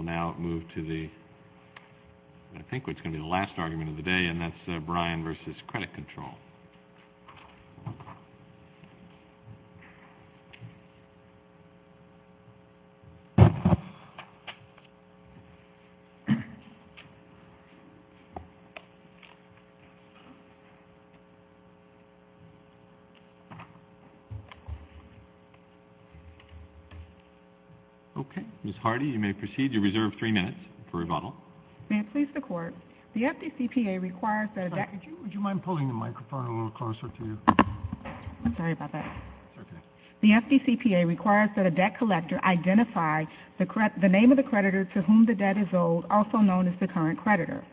We will now move to the last argument of the day, and that's Bryan v. Credit Control. Ms. Hardy, you may proceed to reserve three minutes for rebuttal. The FDCPA requires that a debt collector identify the name of the creditor to whom the debt is owed, also known as the current creditor.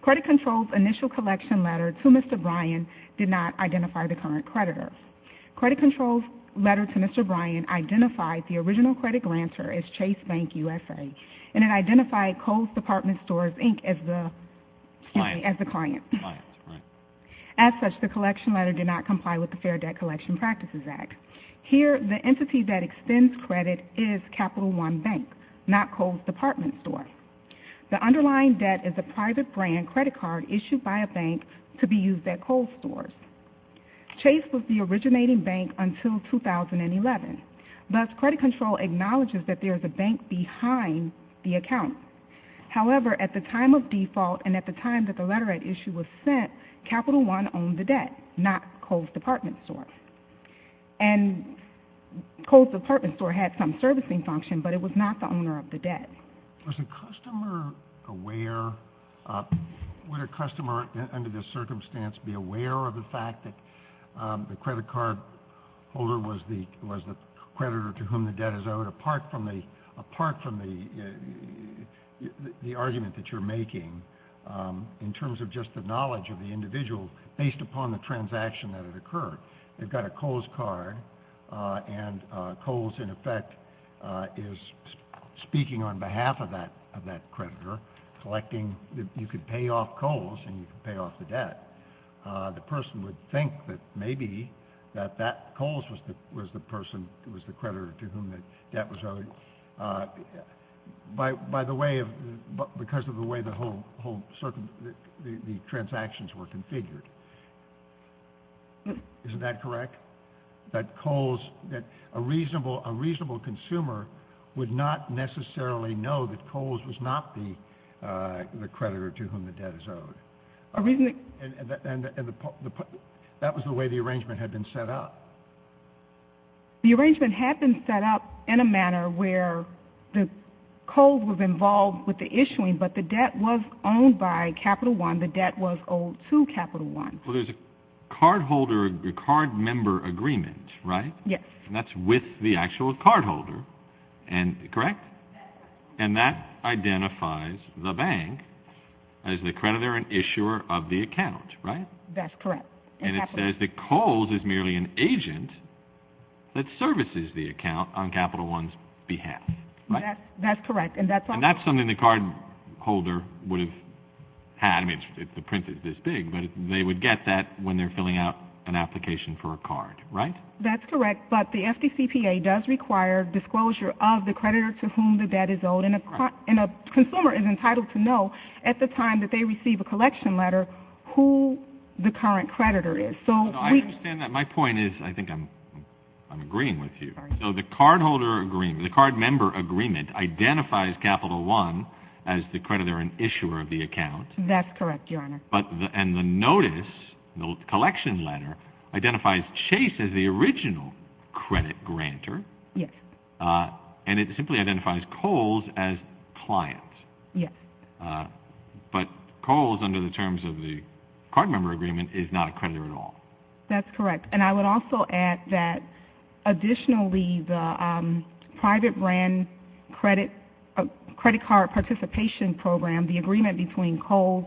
Credit Control's initial collection letter to Mr. Bryan did not identify the current creditor. Credit Control's letter to Mr. Bryan identified the original credit grantor as Chase Bank, U.S.A., and it identified Kohl's Department Stores, Inc. as the client. As such, the collection letter did not comply with the Fair Debt Collection Practices Act. Here, the entity that extends credit is Capital One Bank, not Kohl's Department Stores. The underlying debt is a private brand credit card issued by a bank to be used at Kohl's Stores. Chase was the originating bank until 2011. Thus, Credit Control acknowledges that there is a bank behind the account. However, at the time of default and at the time that the letter at issue was sent, Capital One owned the debt, not Kohl's Department Stores. And Kohl's Department Stores had some servicing function, but it was not the owner of the debt. Was the customer aware? Would a customer under this circumstance be aware of the fact that the credit card holder was the creditor to whom the debt is owed, apart from the argument that you're making in terms of just the knowledge of the individual based upon the transaction that had occurred? They've got a Kohl's card, and Kohl's, in effect, is speaking on behalf of that creditor, collecting. You could pay off Kohl's, and you could pay off the debt. The person would think that maybe that Kohl's was the person who was the creditor to whom the debt was owed because of the way the transactions were configured. Isn't that correct? That Kohl's, that a reasonable consumer would not necessarily know that Kohl's was not the creditor to whom the debt is owed. And that was the way the arrangement had been set up. The arrangement had been set up in a manner where Kohl's was involved with the issuing, but the debt was owned by Capital One. And the debt was owed to Capital One. Well, there's a cardholder, a card member agreement, right? Yes. And that's with the actual cardholder, correct? And that identifies the bank as the creditor and issuer of the account, right? That's correct. And it says that Kohl's is merely an agent that services the account on Capital One's behalf, right? That's correct. And that's something the cardholder would have had. I mean, the print is this big, but they would get that when they're filling out an application for a card, right? That's correct, but the FDCPA does require disclosure of the creditor to whom the debt is owed, and a consumer is entitled to know at the time that they receive a collection letter who the current creditor is. No, I understand that. My point is, I think I'm agreeing with you. So the cardholder agreement, the card member agreement identifies Capital One as the creditor and issuer of the account. That's correct, Your Honor. And the notice, the collection letter, identifies Chase as the original credit grantor. Yes. And it simply identifies Kohl's as client. Yes. But Kohl's, under the terms of the card member agreement, is not a creditor at all. That's correct. And I would also add that, additionally, the private brand credit card participation program, the agreement between Kohl's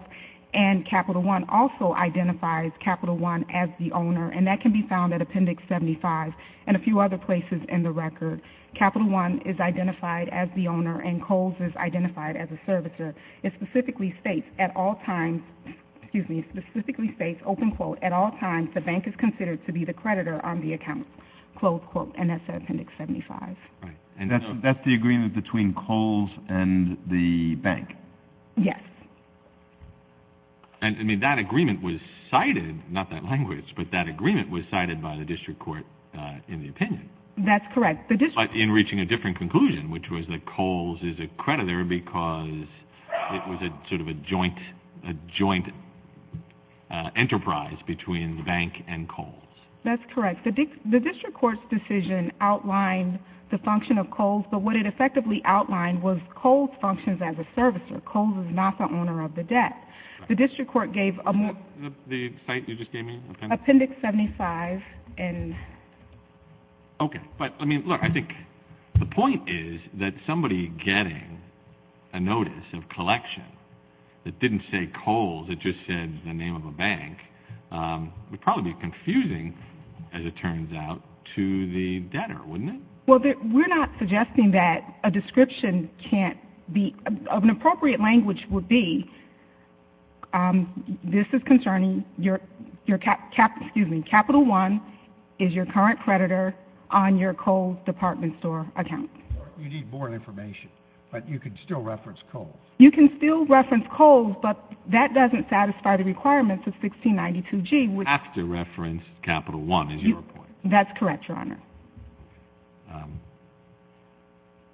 and Capital One also identifies Capital One as the owner, and that can be found at Appendix 75 and a few other places in the record. Capital One is identified as the owner, and Kohl's is identified as a servicer. It specifically states, at all times, excuse me, it specifically states, open quote, at all times, the bank is considered to be the creditor on the account, close quote. And that's at Appendix 75. And that's the agreement between Kohl's and the bank. Yes. I mean, that agreement was cited, not that language, but that agreement was cited by the district court in the opinion. That's correct. But in reaching a different conclusion, which was that Kohl's is a creditor because it was sort of a joint enterprise between the bank and Kohl's. That's correct. The district court's decision outlined the function of Kohl's, but what it effectively outlined was Kohl's functions as a servicer. Kohl's is not the owner of the debt. The district court gave a more – The site you just gave me? Appendix 75. Okay. But, I mean, look, I think the point is that somebody getting a notice of collection that didn't say Kohl's, it just said the name of a bank, would probably be confusing, as it turns out, to the debtor, wouldn't it? Well, we're not suggesting that a description can't be – an appropriate language would be, this is concerning your – excuse me – Capital One is your current creditor on your Kohl's department store account. You need more information, but you can still reference Kohl's. You can still reference Kohl's, but that doesn't satisfy the requirements of 1692G. You have to reference Capital One is your point. That's correct, Your Honor.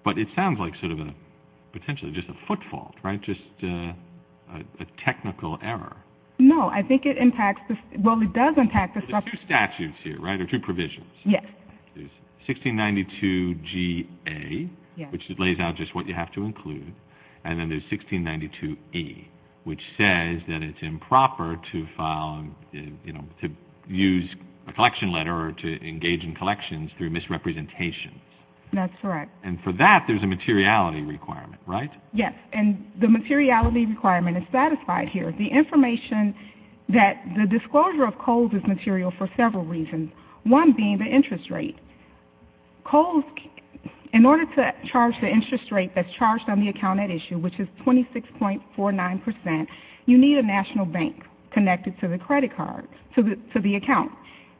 But it sounds like sort of a – potentially just a footfall, right, just a technical error. No, I think it impacts – well, it does impact the structure. There's two statutes here, right, or two provisions. Yes. And then there's 1692E, which says that it's improper to file – you know, to use a collection letter or to engage in collections through misrepresentations. That's correct. And for that, there's a materiality requirement, right? Yes, and the materiality requirement is satisfied here. The information that the disclosure of Kohl's is material for several reasons, one being the interest rate. Kohl's – in order to charge the interest rate that's charged on the account at issue, which is 26.49 percent, you need a national bank connected to the credit card, to the account.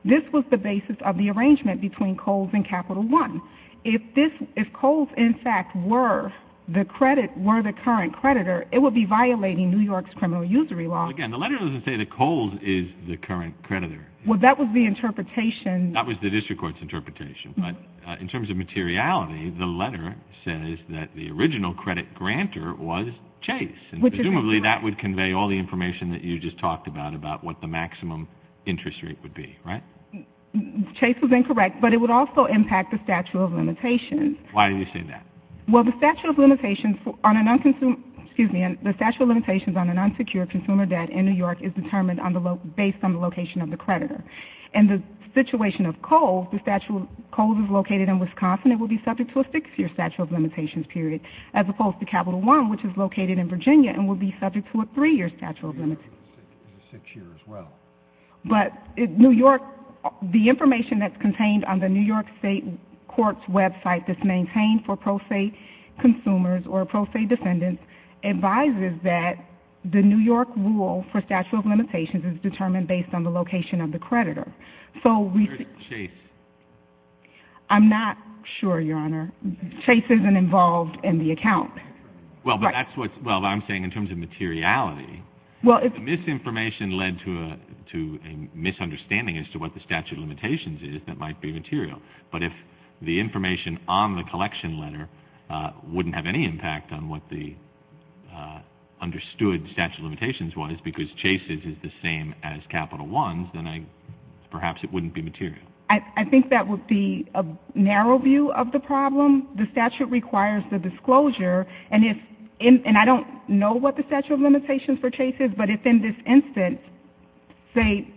This was the basis of the arrangement between Kohl's and Capital One. If this – if Kohl's, in fact, were the credit – were the current creditor, it would be violating New York's criminal usury law. Again, the letter doesn't say that Kohl's is the current creditor. Well, that was the interpretation. That was the district court's interpretation. But in terms of materiality, the letter says that the original credit grantor was Chase. Which is incorrect. And presumably, that would convey all the information that you just talked about, about what the maximum interest rate would be, right? Chase was incorrect, but it would also impact the statute of limitations. Why do you say that? Well, the statute of limitations on an – excuse me – the statute of limitations on an unsecured consumer debt in New York is determined on the – based on the location of the creditor. In the situation of Kohl's, the statute of – Kohl's is located in Wisconsin. It will be subject to a six-year statute of limitations period, as opposed to Capital One, which is located in Virginia, and will be subject to a three-year statute of limitations. Three years and a six year as well. But New York – the information that's contained on the New York State Court's website that's maintained for pro se consumers or pro se defendants advises that the New York rule for statute of limitations is determined based on the location of the creditor. So we – Where's Chase? I'm not sure, Your Honor. Chase isn't involved in the account. Well, but that's what – well, I'm saying in terms of materiality. Well, if – The misinformation led to a – to a misunderstanding as to what the statute of limitations is that might be material. But if the information on the collection letter wouldn't have any impact on what the understood statute of limitations was, because Chase's is the same as Capital One's, then I – perhaps it wouldn't be material. I think that would be a narrow view of the problem. The statute requires the disclosure. And if – and I don't know what the statute of limitations for Chase is, but if in this instance, say,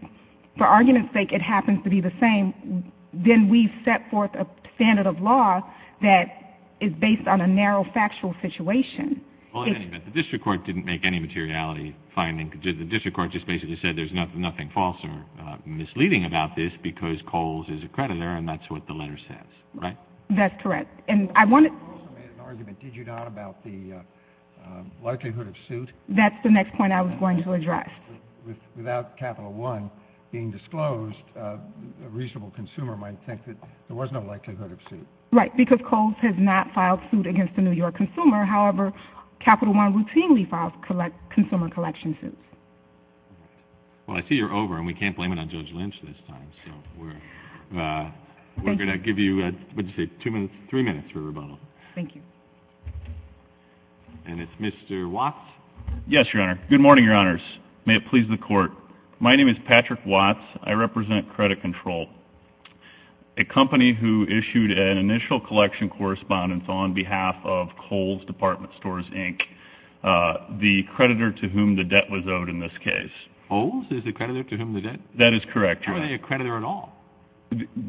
for argument's sake, it happens to be the same, then we've set forth a standard of law that is based on a narrow factual situation. Well, at any rate, the district court didn't make any materiality finding. The district court just basically said there's nothing false or misleading about this because Coles is a creditor and that's what the letter says, right? That's correct. And I want to – You also made an argument, did you not, about the likelihood of suit? That's the next point I was going to address. Without Capital One being disclosed, a reasonable consumer might think that there was no likelihood of suit. Right, because Coles has not filed suit against a New York consumer. However, Capital One routinely files consumer collection suits. Well, I see you're over and we can't blame it on Judge Lynch this time. So we're going to give you, what did you say, two minutes, three minutes for rebuttal. Thank you. And it's Mr. Watts. Yes, Your Honor. Good morning, Your Honors. May it please the Court. My name is Patrick Watts. I represent Credit Control, a company who issued an initial collection correspondence on behalf of Coles Department Stores, Inc., the creditor to whom the debt was owed in this case. Coles is the creditor to whom the debt was owed? That is correct, Your Honor. How are they a creditor at all?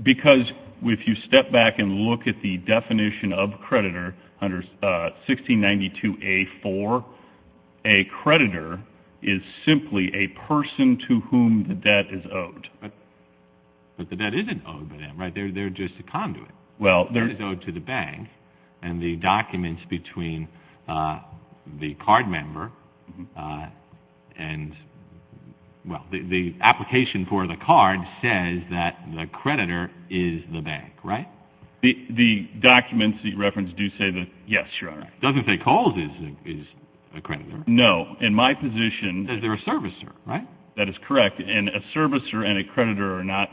Because if you step back and look at the definition of creditor under 1692A4, a creditor is simply a person to whom the debt is owed. But the debt isn't owed by them, right? They're just a conduit. Well, they're... It's owed to the bank. And the documents between the card member and, well, the application for the card says that the creditor is the bank, right? The documents you referenced do say that, yes, Your Honor. It doesn't say Coles is a creditor. No. In my position... Because they're a servicer, right? That is correct. And a servicer and a creditor are not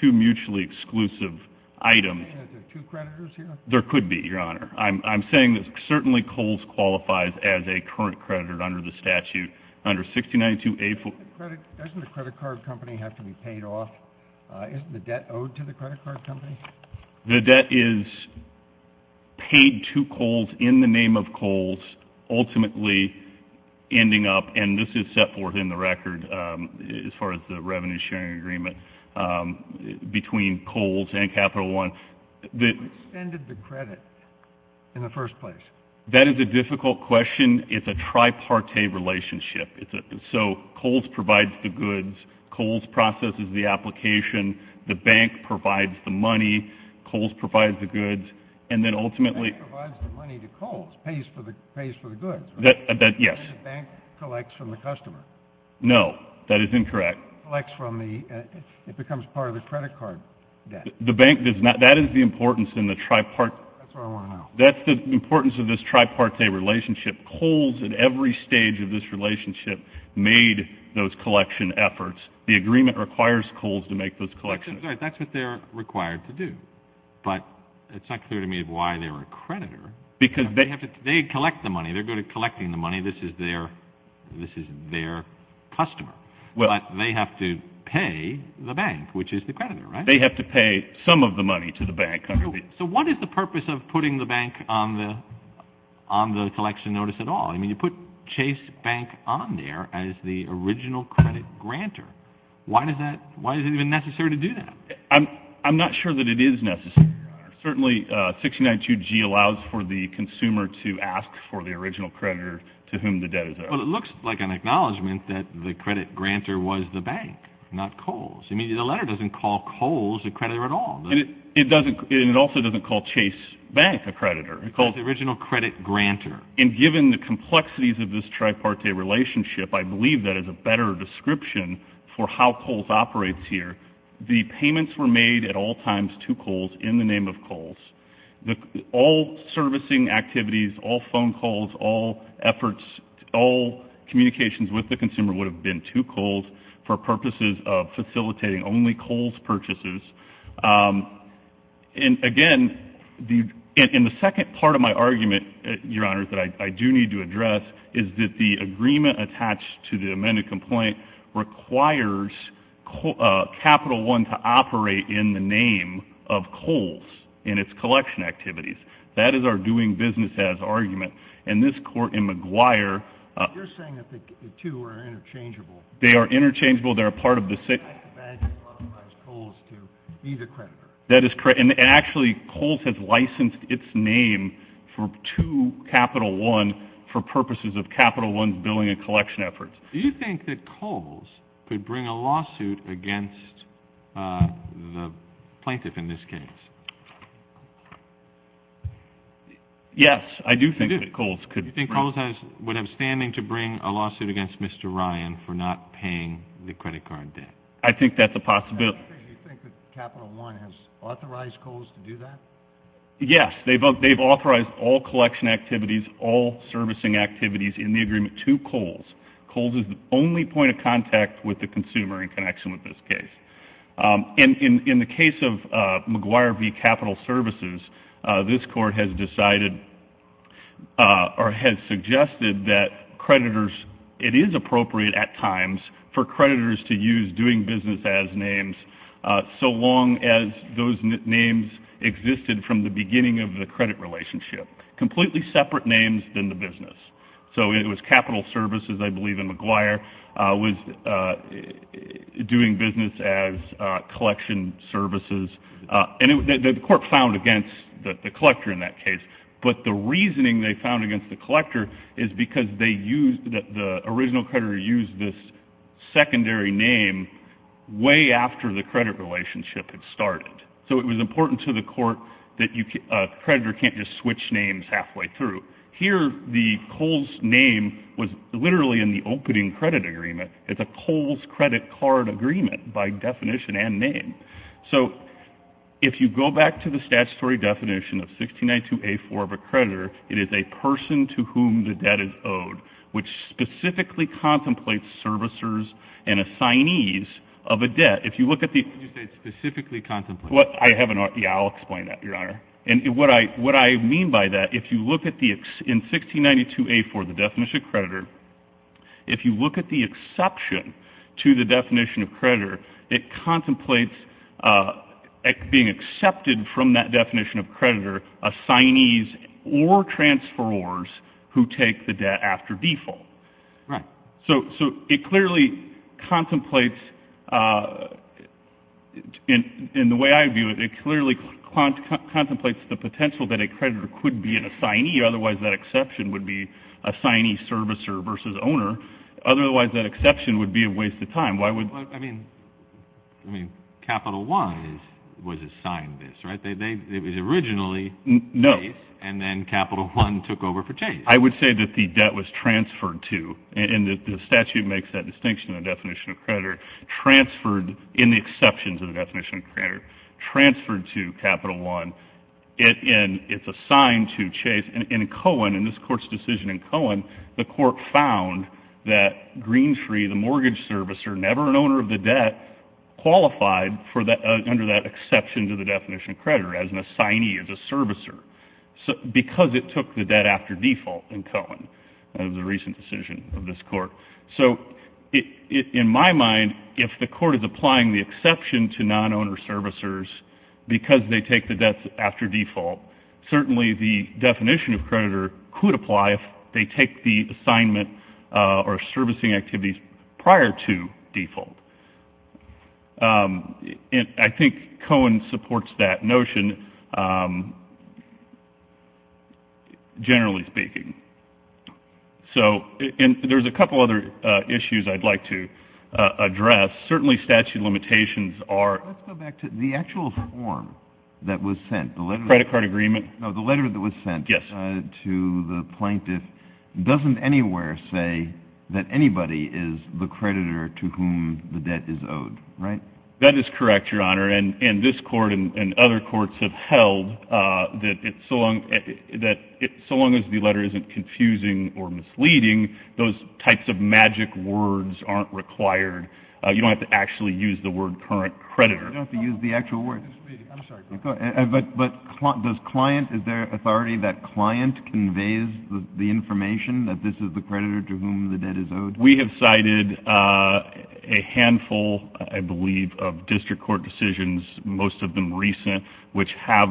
two mutually exclusive items. Are there two creditors here? There could be, Your Honor. I'm saying that certainly Coles qualifies as a current creditor under the statute. Under 1692A4... Doesn't the credit card company have to be paid off? Isn't the debt owed to the credit card company? The debt is paid to Coles in the name of Coles, ultimately ending up, and this is set forth in the record as far as the revenue sharing agreement, between Coles and Capital One... Who expended the credit in the first place? That is a difficult question. It's a tripartite relationship. So Coles provides the goods. Coles processes the application. The bank provides the money. Coles provides the goods. And then ultimately... The bank provides the money to Coles, pays for the goods, right? Yes. The bank collects from the customer. No, that is incorrect. It becomes part of the credit card debt. That is the importance in the tripartite... That's what I want to know. That's the importance of this tripartite relationship. Coles, at every stage of this relationship, made those collection efforts. The agreement requires Coles to make those collections. That's right. That's what they're required to do. But it's not clear to me why they're a creditor. They collect the money. They're good at collecting the money. This is their customer. But they have to pay the bank, which is the creditor, right? They have to pay some of the money to the bank. So what is the purpose of putting the bank on the collection notice at all? I mean, you put Chase Bank on there as the original credit grantor. Why is it even necessary to do that? I'm not sure that it is necessary, Your Honor. Certainly 692G allows for the consumer to ask for the original creditor to whom the debt is owed. Well, it looks like an acknowledgment that the credit grantor was the bank, not Coles. I mean, the letter doesn't call Coles a creditor at all. And it also doesn't call Chase Bank a creditor. It calls the original credit grantor. And given the complexities of this tripartite relationship, I believe that is a better description for how Coles operates here. The payments were made at all times to Coles in the name of Coles. All servicing activities, all phone calls, all efforts, all communications with the consumer would have been to Coles for purposes of facilitating only Coles purchases. And, again, in the second part of my argument, Your Honor, that I do need to address, is that the agreement attached to the amended complaint requires Capital One to operate in the name of Coles in its collection activities. That is our doing business as argument. And this court in McGuire — You're saying that the two are interchangeable. They are interchangeable. They're a part of the — It's not the bank that authorized Coles to be the creditor. That is correct. And, actually, Coles has licensed its name to Capital One for purposes of Capital One's billing and collection efforts. Do you think that Coles could bring a lawsuit against the plaintiff in this case? Yes, I do think that Coles could. Do you think Coles would have standing to bring a lawsuit against Mr. Ryan for not paying the credit card debt? I think that's a possibility. Do you think that Capital One has authorized Coles to do that? Yes. They've authorized all collection activities, all servicing activities in the agreement to Coles. Coles is the only point of contact with the consumer in connection with this case. In the case of McGuire v. Capital Services, this court has decided or has suggested that creditors — It is appropriate at times for creditors to use doing business as names so long as those names existed from the beginning of the credit relationship. Completely separate names than the business. So it was Capital Services, I believe, and McGuire was doing business as collection services. And the court found against the collector in that case. But the reasoning they found against the collector is because the original creditor used this secondary name way after the credit relationship had started. So it was important to the court that a creditor can't just switch names halfway through. Here, the Coles name was literally in the opening credit agreement. It's a Coles credit card agreement by definition and name. So if you go back to the statutory definition of 1692A4 of a creditor, it is a person to whom the debt is owed, which specifically contemplates servicers and assignees of a debt. If you look at the — You say specifically contemplates. Yeah, I'll explain that, Your Honor. And what I mean by that, if you look at the — in 1692A4, the definition of creditor, if you look at the exception to the definition of creditor, it contemplates being accepted from that definition of creditor assignees or transferors who take the debt after default. Right. So it clearly contemplates — in the way I view it, it clearly contemplates the potential that a creditor could be an assignee. Otherwise, that exception would be assignee servicer versus owner. Otherwise, that exception would be a waste of time. Why would — I mean, Capital One was assigned this, right? It was originally — No. And then Capital One took over for Chase. I would say that the debt was transferred to — and the statute makes that distinction in the definition of creditor — transferred in the exceptions of the definition of creditor, transferred to Capital One. And it's assigned to Chase. In Cohen, in this Court's decision in Cohen, the Court found that Greentree, the mortgage servicer, never an owner of the debt, qualified under that exception to the definition of creditor as an assignee, as a servicer. Because it took the debt after default in Cohen. That was a recent decision of this Court. So in my mind, if the Court is applying the exception to non-owner servicers because they take the debt after default, certainly the definition of creditor could apply if they take the assignment or servicing activities prior to default. And I think Cohen supports that notion, generally speaking. So — and there's a couple other issues I'd like to address. Certainly statute limitations are — Let's go back to the actual form that was sent. The letter — Credit card agreement. No, the letter that was sent — Yes. — to the plaintiff doesn't anywhere say that anybody is the creditor to whom the debt is owed. Right? That is correct, Your Honor. And this Court and other courts have held that so long as the letter isn't confusing or misleading, those types of magic words aren't required. You don't have to actually use the word current creditor. You don't have to use the actual word. I'm sorry. But does client — is there authority that client conveys the information that this is the creditor to whom the debt is owed? We have cited a handful, I believe, of district court decisions, most of them recent, which have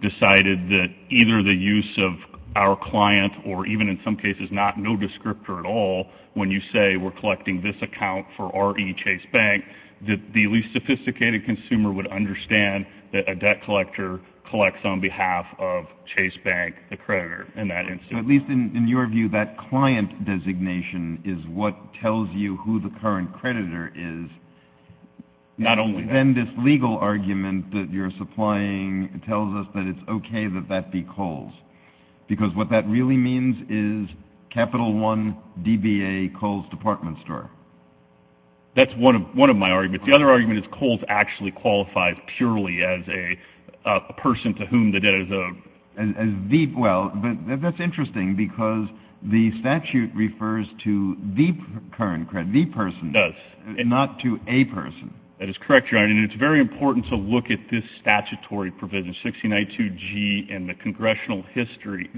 decided that either the use of our client or even in some cases no descriptor at all, when you say we're collecting this account for R.E. Chase Bank, that the least sophisticated consumer would understand that a debt collector collects on behalf of Chase Bank, the creditor, in that instance. So at least in your view, that client designation is what tells you who the current creditor is. Not only that. Then this legal argument that you're supplying tells us that it's okay that that be Kohl's, because what that really means is Capital One, DBA, Kohl's Department Store. That's one of my arguments. The other argument is Kohl's actually qualifies purely as a person to whom the debt is owed. Well, that's interesting, because the statute refers to the current creditor, the person. It does. Not to a person. That is correct, Your Honor. And it's very important to look at this statutory provision, 1692G and the congressional history,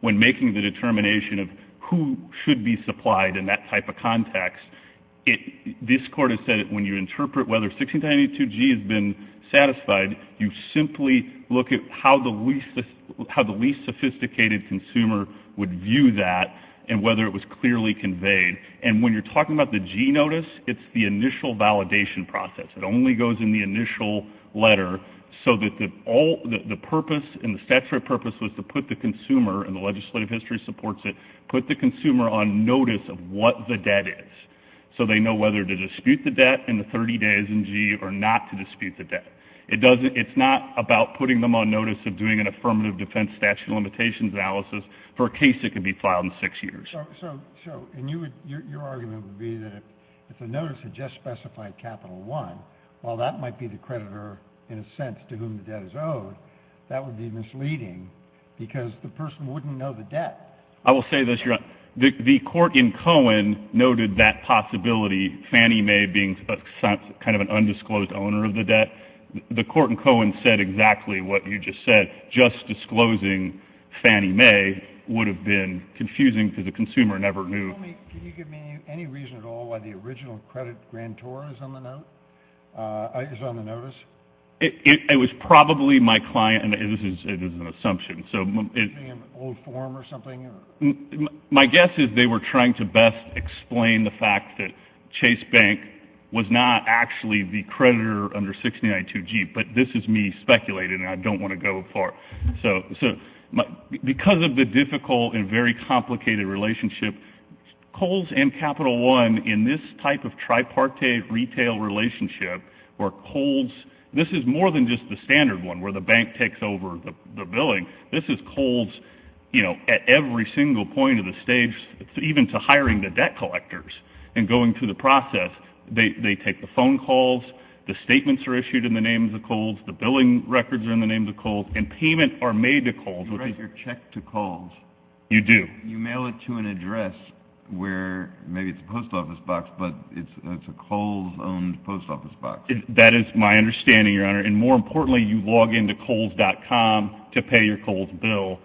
when making the determination of who should be supplied in that type of context. This Court has said that when you interpret whether 1692G has been satisfied, you simply look at how the least sophisticated consumer would view that and whether it was clearly conveyed. And when you're talking about the G notice, it's the initial validation process. It only goes in the initial letter so that the purpose and the statutory purpose was to put the consumer, and the legislative history supports it, put the consumer on notice of what the debt is, so they know whether to dispute the debt in the 30 days in G or not to dispute the debt. It's not about putting them on notice of doing an affirmative defense statute of limitations analysis for a case that could be filed in six years. So, and your argument would be that if the notice had just specified capital one, while that might be the creditor in a sense to whom the debt is owed, that would be misleading because the person wouldn't know the debt. I will say this, Your Honor. The court in Cohen noted that possibility, Fannie Mae being kind of an undisclosed owner of the debt. The court in Cohen said exactly what you just said. Just disclosing Fannie Mae would have been confusing because the consumer never knew. Can you give me any reason at all why the original credit grantor is on the note, is on the notice? It was probably my client, and this is an assumption. Maybe an old form or something? My guess is they were trying to best explain the fact that Chase Bank was not actually the creditor under 6992G, but this is me speculating, and I don't want to go far. So because of the difficult and very complicated relationship, Kohl's and Capital One in this type of tripartite retail relationship where Kohl's, this is more than just the standard one where the bank takes over the billing. This is Kohl's, you know, at every single point of the stage, even to hiring the debt collectors and going through the process. They take the phone calls, the statements are issued in the name of the Kohl's, the billing records are in the name of the Kohl's, and payment are made to Kohl's. You write your check to Kohl's. You do. You mail it to an address where maybe it's a post office box, but it's a Kohl's-owned post office box. That is my understanding, Your Honor, and more importantly, you log into Kohl's.com to pay your Kohl's bill,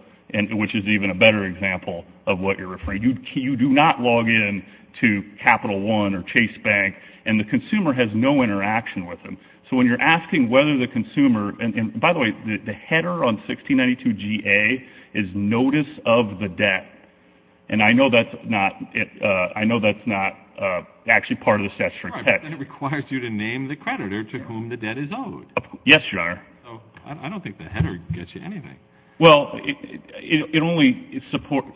which is even a better example of what you're referring to. You do not log in to Capital One or Chase Bank, and the consumer has no interaction with them. So when you're asking whether the consumer, and by the way, the header on 1692 GA is Notice of the Debt, and I know that's not actually part of the statutory text. It requires you to name the creditor to whom the debt is owed. Yes, Your Honor. I don't think the header gets you anything. Well, it only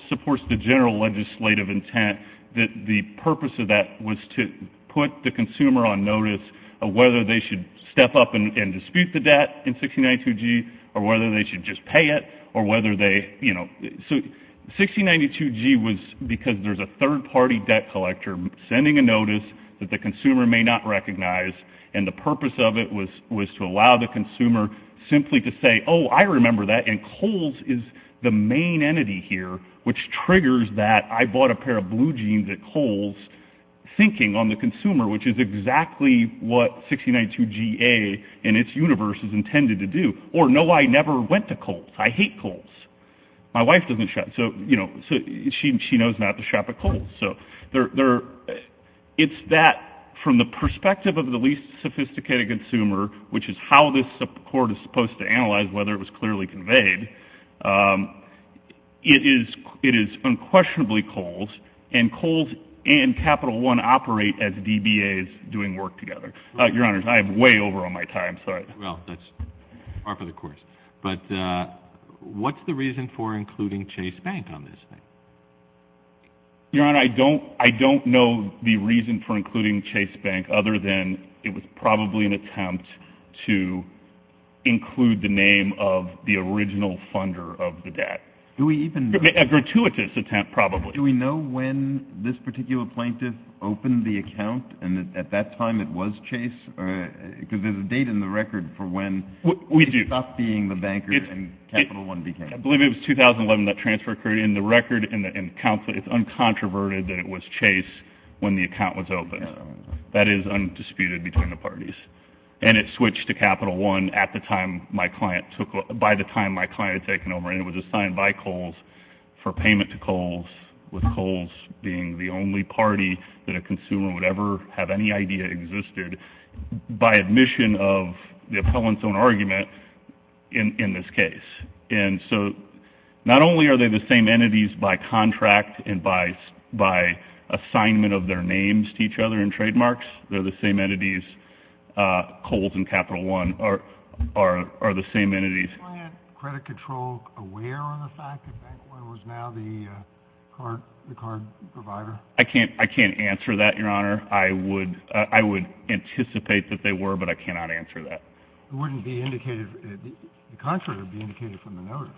supports the general legislative intent that the purpose of that was to put the consumer on notice of whether they should step up and dispute the debt in 1692 G or whether they should just pay it or whether they, you know. So 1692 G was because there's a third-party debt collector sending a notice that the consumer may not recognize, and the purpose of it was to allow the consumer simply to say, oh, I remember that, and Kohl's is the main entity here, which triggers that I bought a pair of blue jeans at Kohl's, thinking on the consumer, which is exactly what 1692 GA and its universe is intended to do, or no, I never went to Kohl's. I hate Kohl's. My wife doesn't shop. So, you know, she knows not to shop at Kohl's. So it's that from the perspective of the least sophisticated consumer, which is how this court is supposed to analyze whether it was clearly conveyed, it is unquestionably Kohl's, and Kohl's and Capital One operate as DBAs doing work together. Your Honor, I am way over on my time. I'm sorry. Well, that's par for the course. But what's the reason for including Chase Bank on this thing? Your Honor, I don't know the reason for including Chase Bank, other than it was probably an attempt to include the name of the original funder of the debt. A gratuitous attempt, probably. Do we know when this particular plaintiff opened the account, and at that time it was Chase? Because there's a date in the record for when it stopped being the banker and Capital One became it. I believe it was 2011, that transfer occurred. In the record, it's uncontroverted that it was Chase when the account was opened. That is undisputed between the parties. And it switched to Capital One by the time my client had taken over, and it was assigned by Kohl's for payment to Kohl's, with Kohl's being the only party that a consumer would ever have any idea existed, by admission of the appellant's own argument in this case. And so not only are they the same entities by contract and by assignment of their names to each other in trademarks, they're the same entities, Kohl's and Capital One are the same entities. Was the bank credit control aware of the fact that Bank One was now the card provider? I can't answer that, Your Honor. I would anticipate that they were, but I cannot answer that. It wouldn't be indicated, the contrary would be indicated from the notice.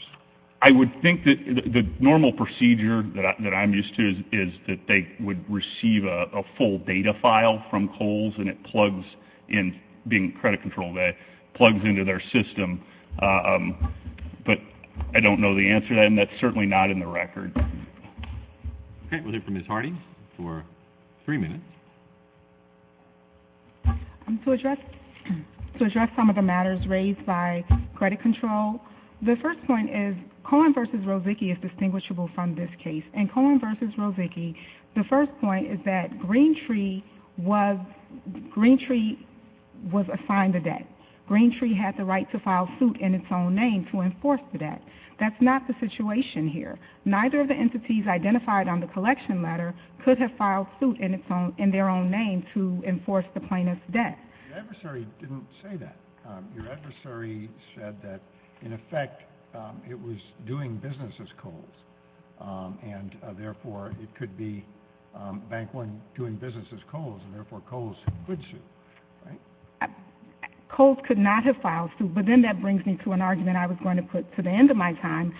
I would think that the normal procedure that I'm used to is that they would receive a full data file from Kohl's, and it plugs into their system, but I don't know the answer to that, and that's certainly not in the record. Okay, we'll hear from Ms. Harding for three minutes. To address some of the matters raised by credit control, the first point is Cohen v. Rozicki is distinguishable from this case, and Cohen v. Rozicki, the first point is that Green Tree was assigned the debt. Green Tree had the right to file suit in its own name to enforce the debt. That's not the situation here. Neither of the entities identified on the collection letter could have filed suit in their own name to enforce the plaintiff's debt. Your adversary didn't say that. Your adversary said that, in effect, it was doing business as Kohl's, and therefore it could be Bank One doing business as Kohl's, and therefore Kohl's could sue, right? Kohl's could not have filed suit, but then that brings me to an argument I was going to put to the end of my time.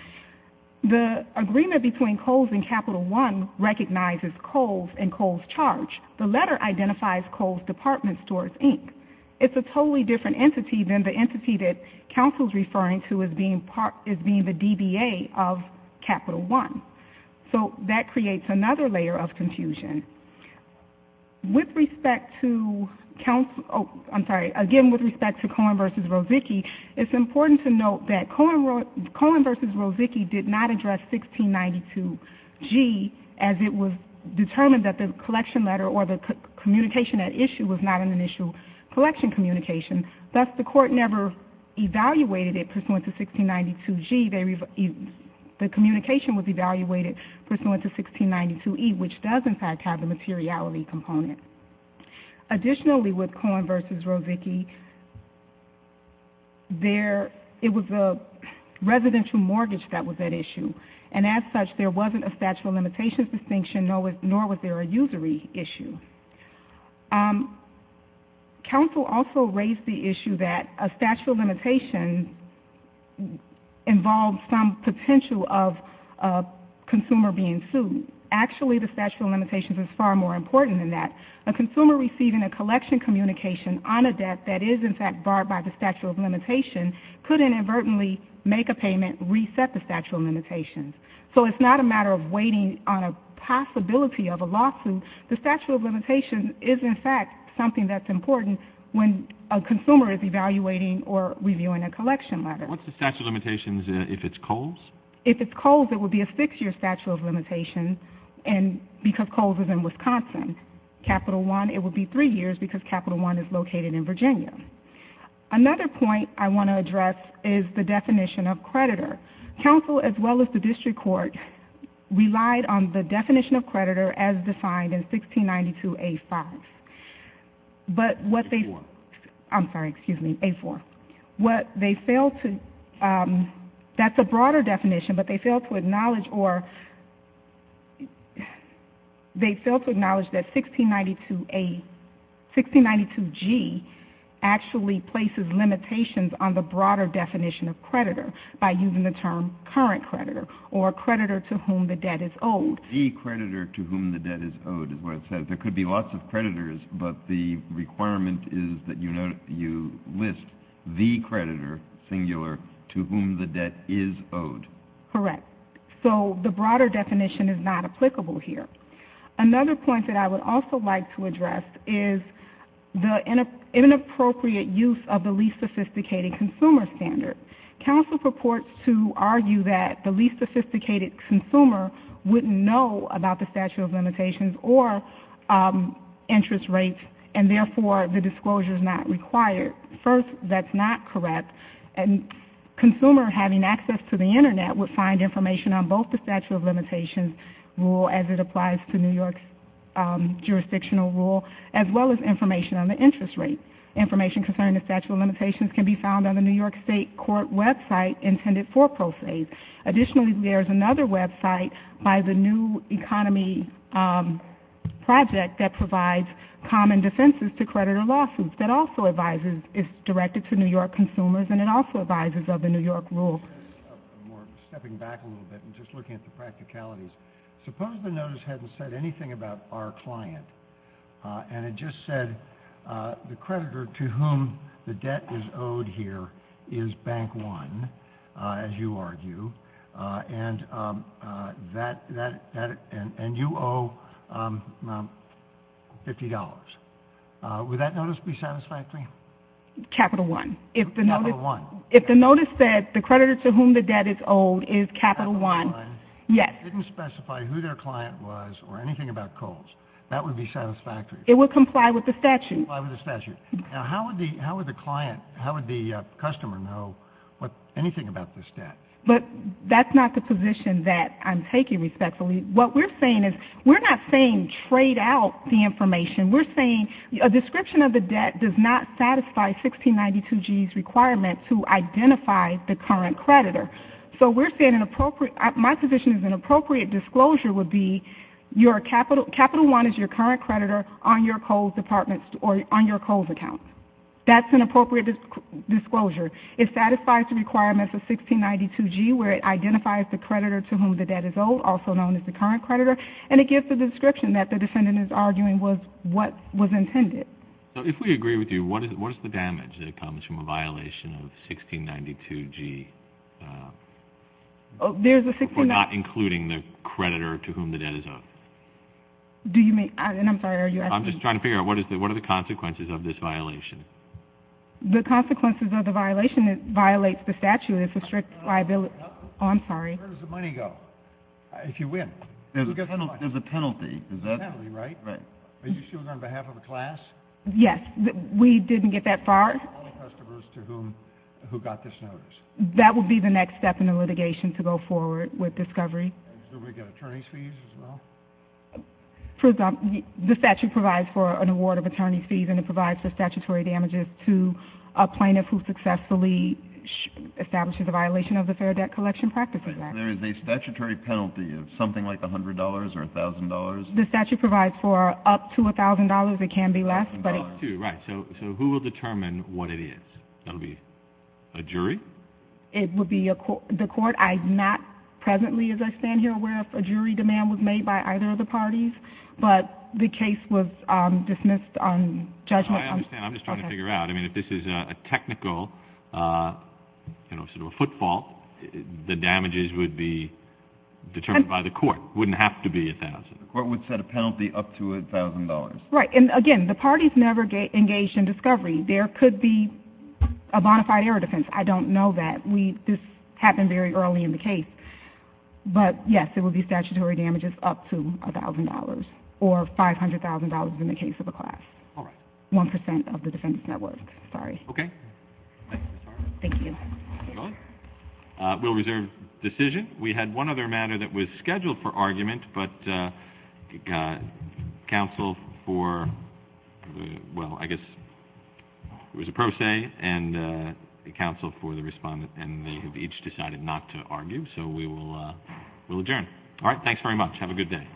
The agreement between Kohl's and Capital One recognizes Kohl's and Kohl's Charge. The letter identifies Kohl's Department Stores, Inc. It's a totally different entity than the entity that counsel is referring to as being the DBA of Capital One. So that creates another layer of confusion. With respect to counsel – oh, I'm sorry. Again, with respect to Cohen v. Rozicki, it's important to note that Cohen v. Rozicki did not address 1692G as it was determined that the collection letter or the communication at issue was not an initial collection communication. Thus, the court never evaluated it pursuant to 1692G. The communication was evaluated pursuant to 1692E, which does, in fact, have a materiality component. Additionally, with Cohen v. Rozicki, it was a residential mortgage that was at issue. And as such, there wasn't a statute of limitations distinction, nor was there a usury issue. Counsel also raised the issue that a statute of limitations involved some potential of a consumer being sued. Actually, the statute of limitations is far more important than that. A consumer receiving a collection communication on a debt that is, in fact, barred by the statute of limitations could inadvertently make a payment, reset the statute of limitations. So it's not a matter of waiting on a possibility of a lawsuit. The statute of limitations is, in fact, something that's important when a consumer is evaluating or reviewing a collection letter. What's the statute of limitations if it's Kohl's? If it's Kohl's, it would be a six-year statute of limitations because Kohl's is in Wisconsin. Capital One, it would be three years because Capital One is located in Virginia. Another point I want to address is the definition of creditor. Counsel, as well as the district court, relied on the definition of creditor as defined in 1692A5. But what they... Four. I'm sorry, excuse me, A4. What they failed to... That's a broader definition, but they failed to acknowledge or... They failed to acknowledge that 1692A... 1692G actually places limitations on the broader definition of creditor by using the term current creditor or creditor to whom the debt is owed. The creditor to whom the debt is owed is what it says. There could be lots of creditors, but the requirement is that you list the creditor, singular, to whom the debt is owed. Correct. The broader definition is not applicable here. Another point that I would also like to address is the inappropriate use of the least sophisticated consumer standard. Counsel purports to argue that the least sophisticated consumer wouldn't know about the Statute of Limitations or interest rates, and therefore the disclosure is not required. First, that's not correct. A consumer having access to the Internet would find information on both the Statute of Limitations rule as it applies to New York's jurisdictional rule, as well as information on the interest rate. Information concerning the Statute of Limitations can be found on the New York State court website intended for pro se. Additionally, there's another website by the New Economy Project that provides common defenses to creditor lawsuits that also is directed to New York consumers and it also advises of the New York rule. Stepping back a little bit and just looking at the practicalities, suppose the notice hadn't said anything about our client and it just said the creditor to whom the debt is owed here is Bank One, as you argue, and you owe $50. Would that notice be satisfactory? Capital One. Capital One. If the notice said the creditor to whom the debt is owed is Capital One, yes. If it didn't specify who their client was or anything about Kohl's, that would be satisfactory. It would comply with the statute. It would comply with the statute. How would the customer know anything about this debt? That's not the position that I'm taking respectfully. What we're saying is we're not saying trade out the information. We're saying a description of the debt does not satisfy 1692G's requirement to identify the current creditor. My position is an appropriate disclosure would be Capital One is your current creditor on your Kohl's account. That's an appropriate disclosure. It satisfies the requirements of 1692G where it identifies the creditor to whom the debt is owed, also known as the current creditor, and it gives the description that the defendant is arguing was what was intended. If we agree with you, what is the damage that comes from a violation of 1692G? There's a 1692G. For not including the creditor to whom the debt is owed. Do you mean? I'm sorry, are you asking? I'm just trying to figure out what are the consequences of this violation? The consequences of the violation, it violates the statute. It's a strict liability. I'm sorry. Where does the money go if you win? There's a penalty. There's a penalty, right? Right. Are you suing on behalf of a class? Yes. We didn't get that far. How many customers to whom got this notice? That would be the next step in the litigation to go forward with discovery. Does everybody get attorney's fees as well? The statute provides for an award of attorney's fees, and it provides the statutory damages to a plaintiff who successfully establishes a violation of the Fair Debt Collection Practices Act. There is a statutory penalty of something like $100 or $1,000? The statute provides for up to $1,000. It can be less. $1,000, right. So who will determine what it is? That will be a jury? It would be the court. I'm not presently, as I stand here, aware if a jury demand was made by either of the parties, but the case was dismissed on judgment. I understand. I'm just trying to figure out. I mean, if this is a technical, you know, sort of a footfall, the damages would be determined by the court. It wouldn't have to be $1,000. The court would set a penalty up to $1,000. Right. And, again, the parties never engaged in discovery. There could be a bonafide error defense. I don't know that. This happened very early in the case. But, yes, there will be statutory damages up to $1,000 or $500,000 in the case of a class. All right. One percent of the defendant's net worth. Sorry. Okay. Thank you. Thank you. We'll reserve decision. We had one other matter that was scheduled for argument, but counsel for, well, I guess it was a pro se, and counsel for the respondent, and they have each decided not to argue. So we will adjourn. All right. Thanks very much. Have a good day.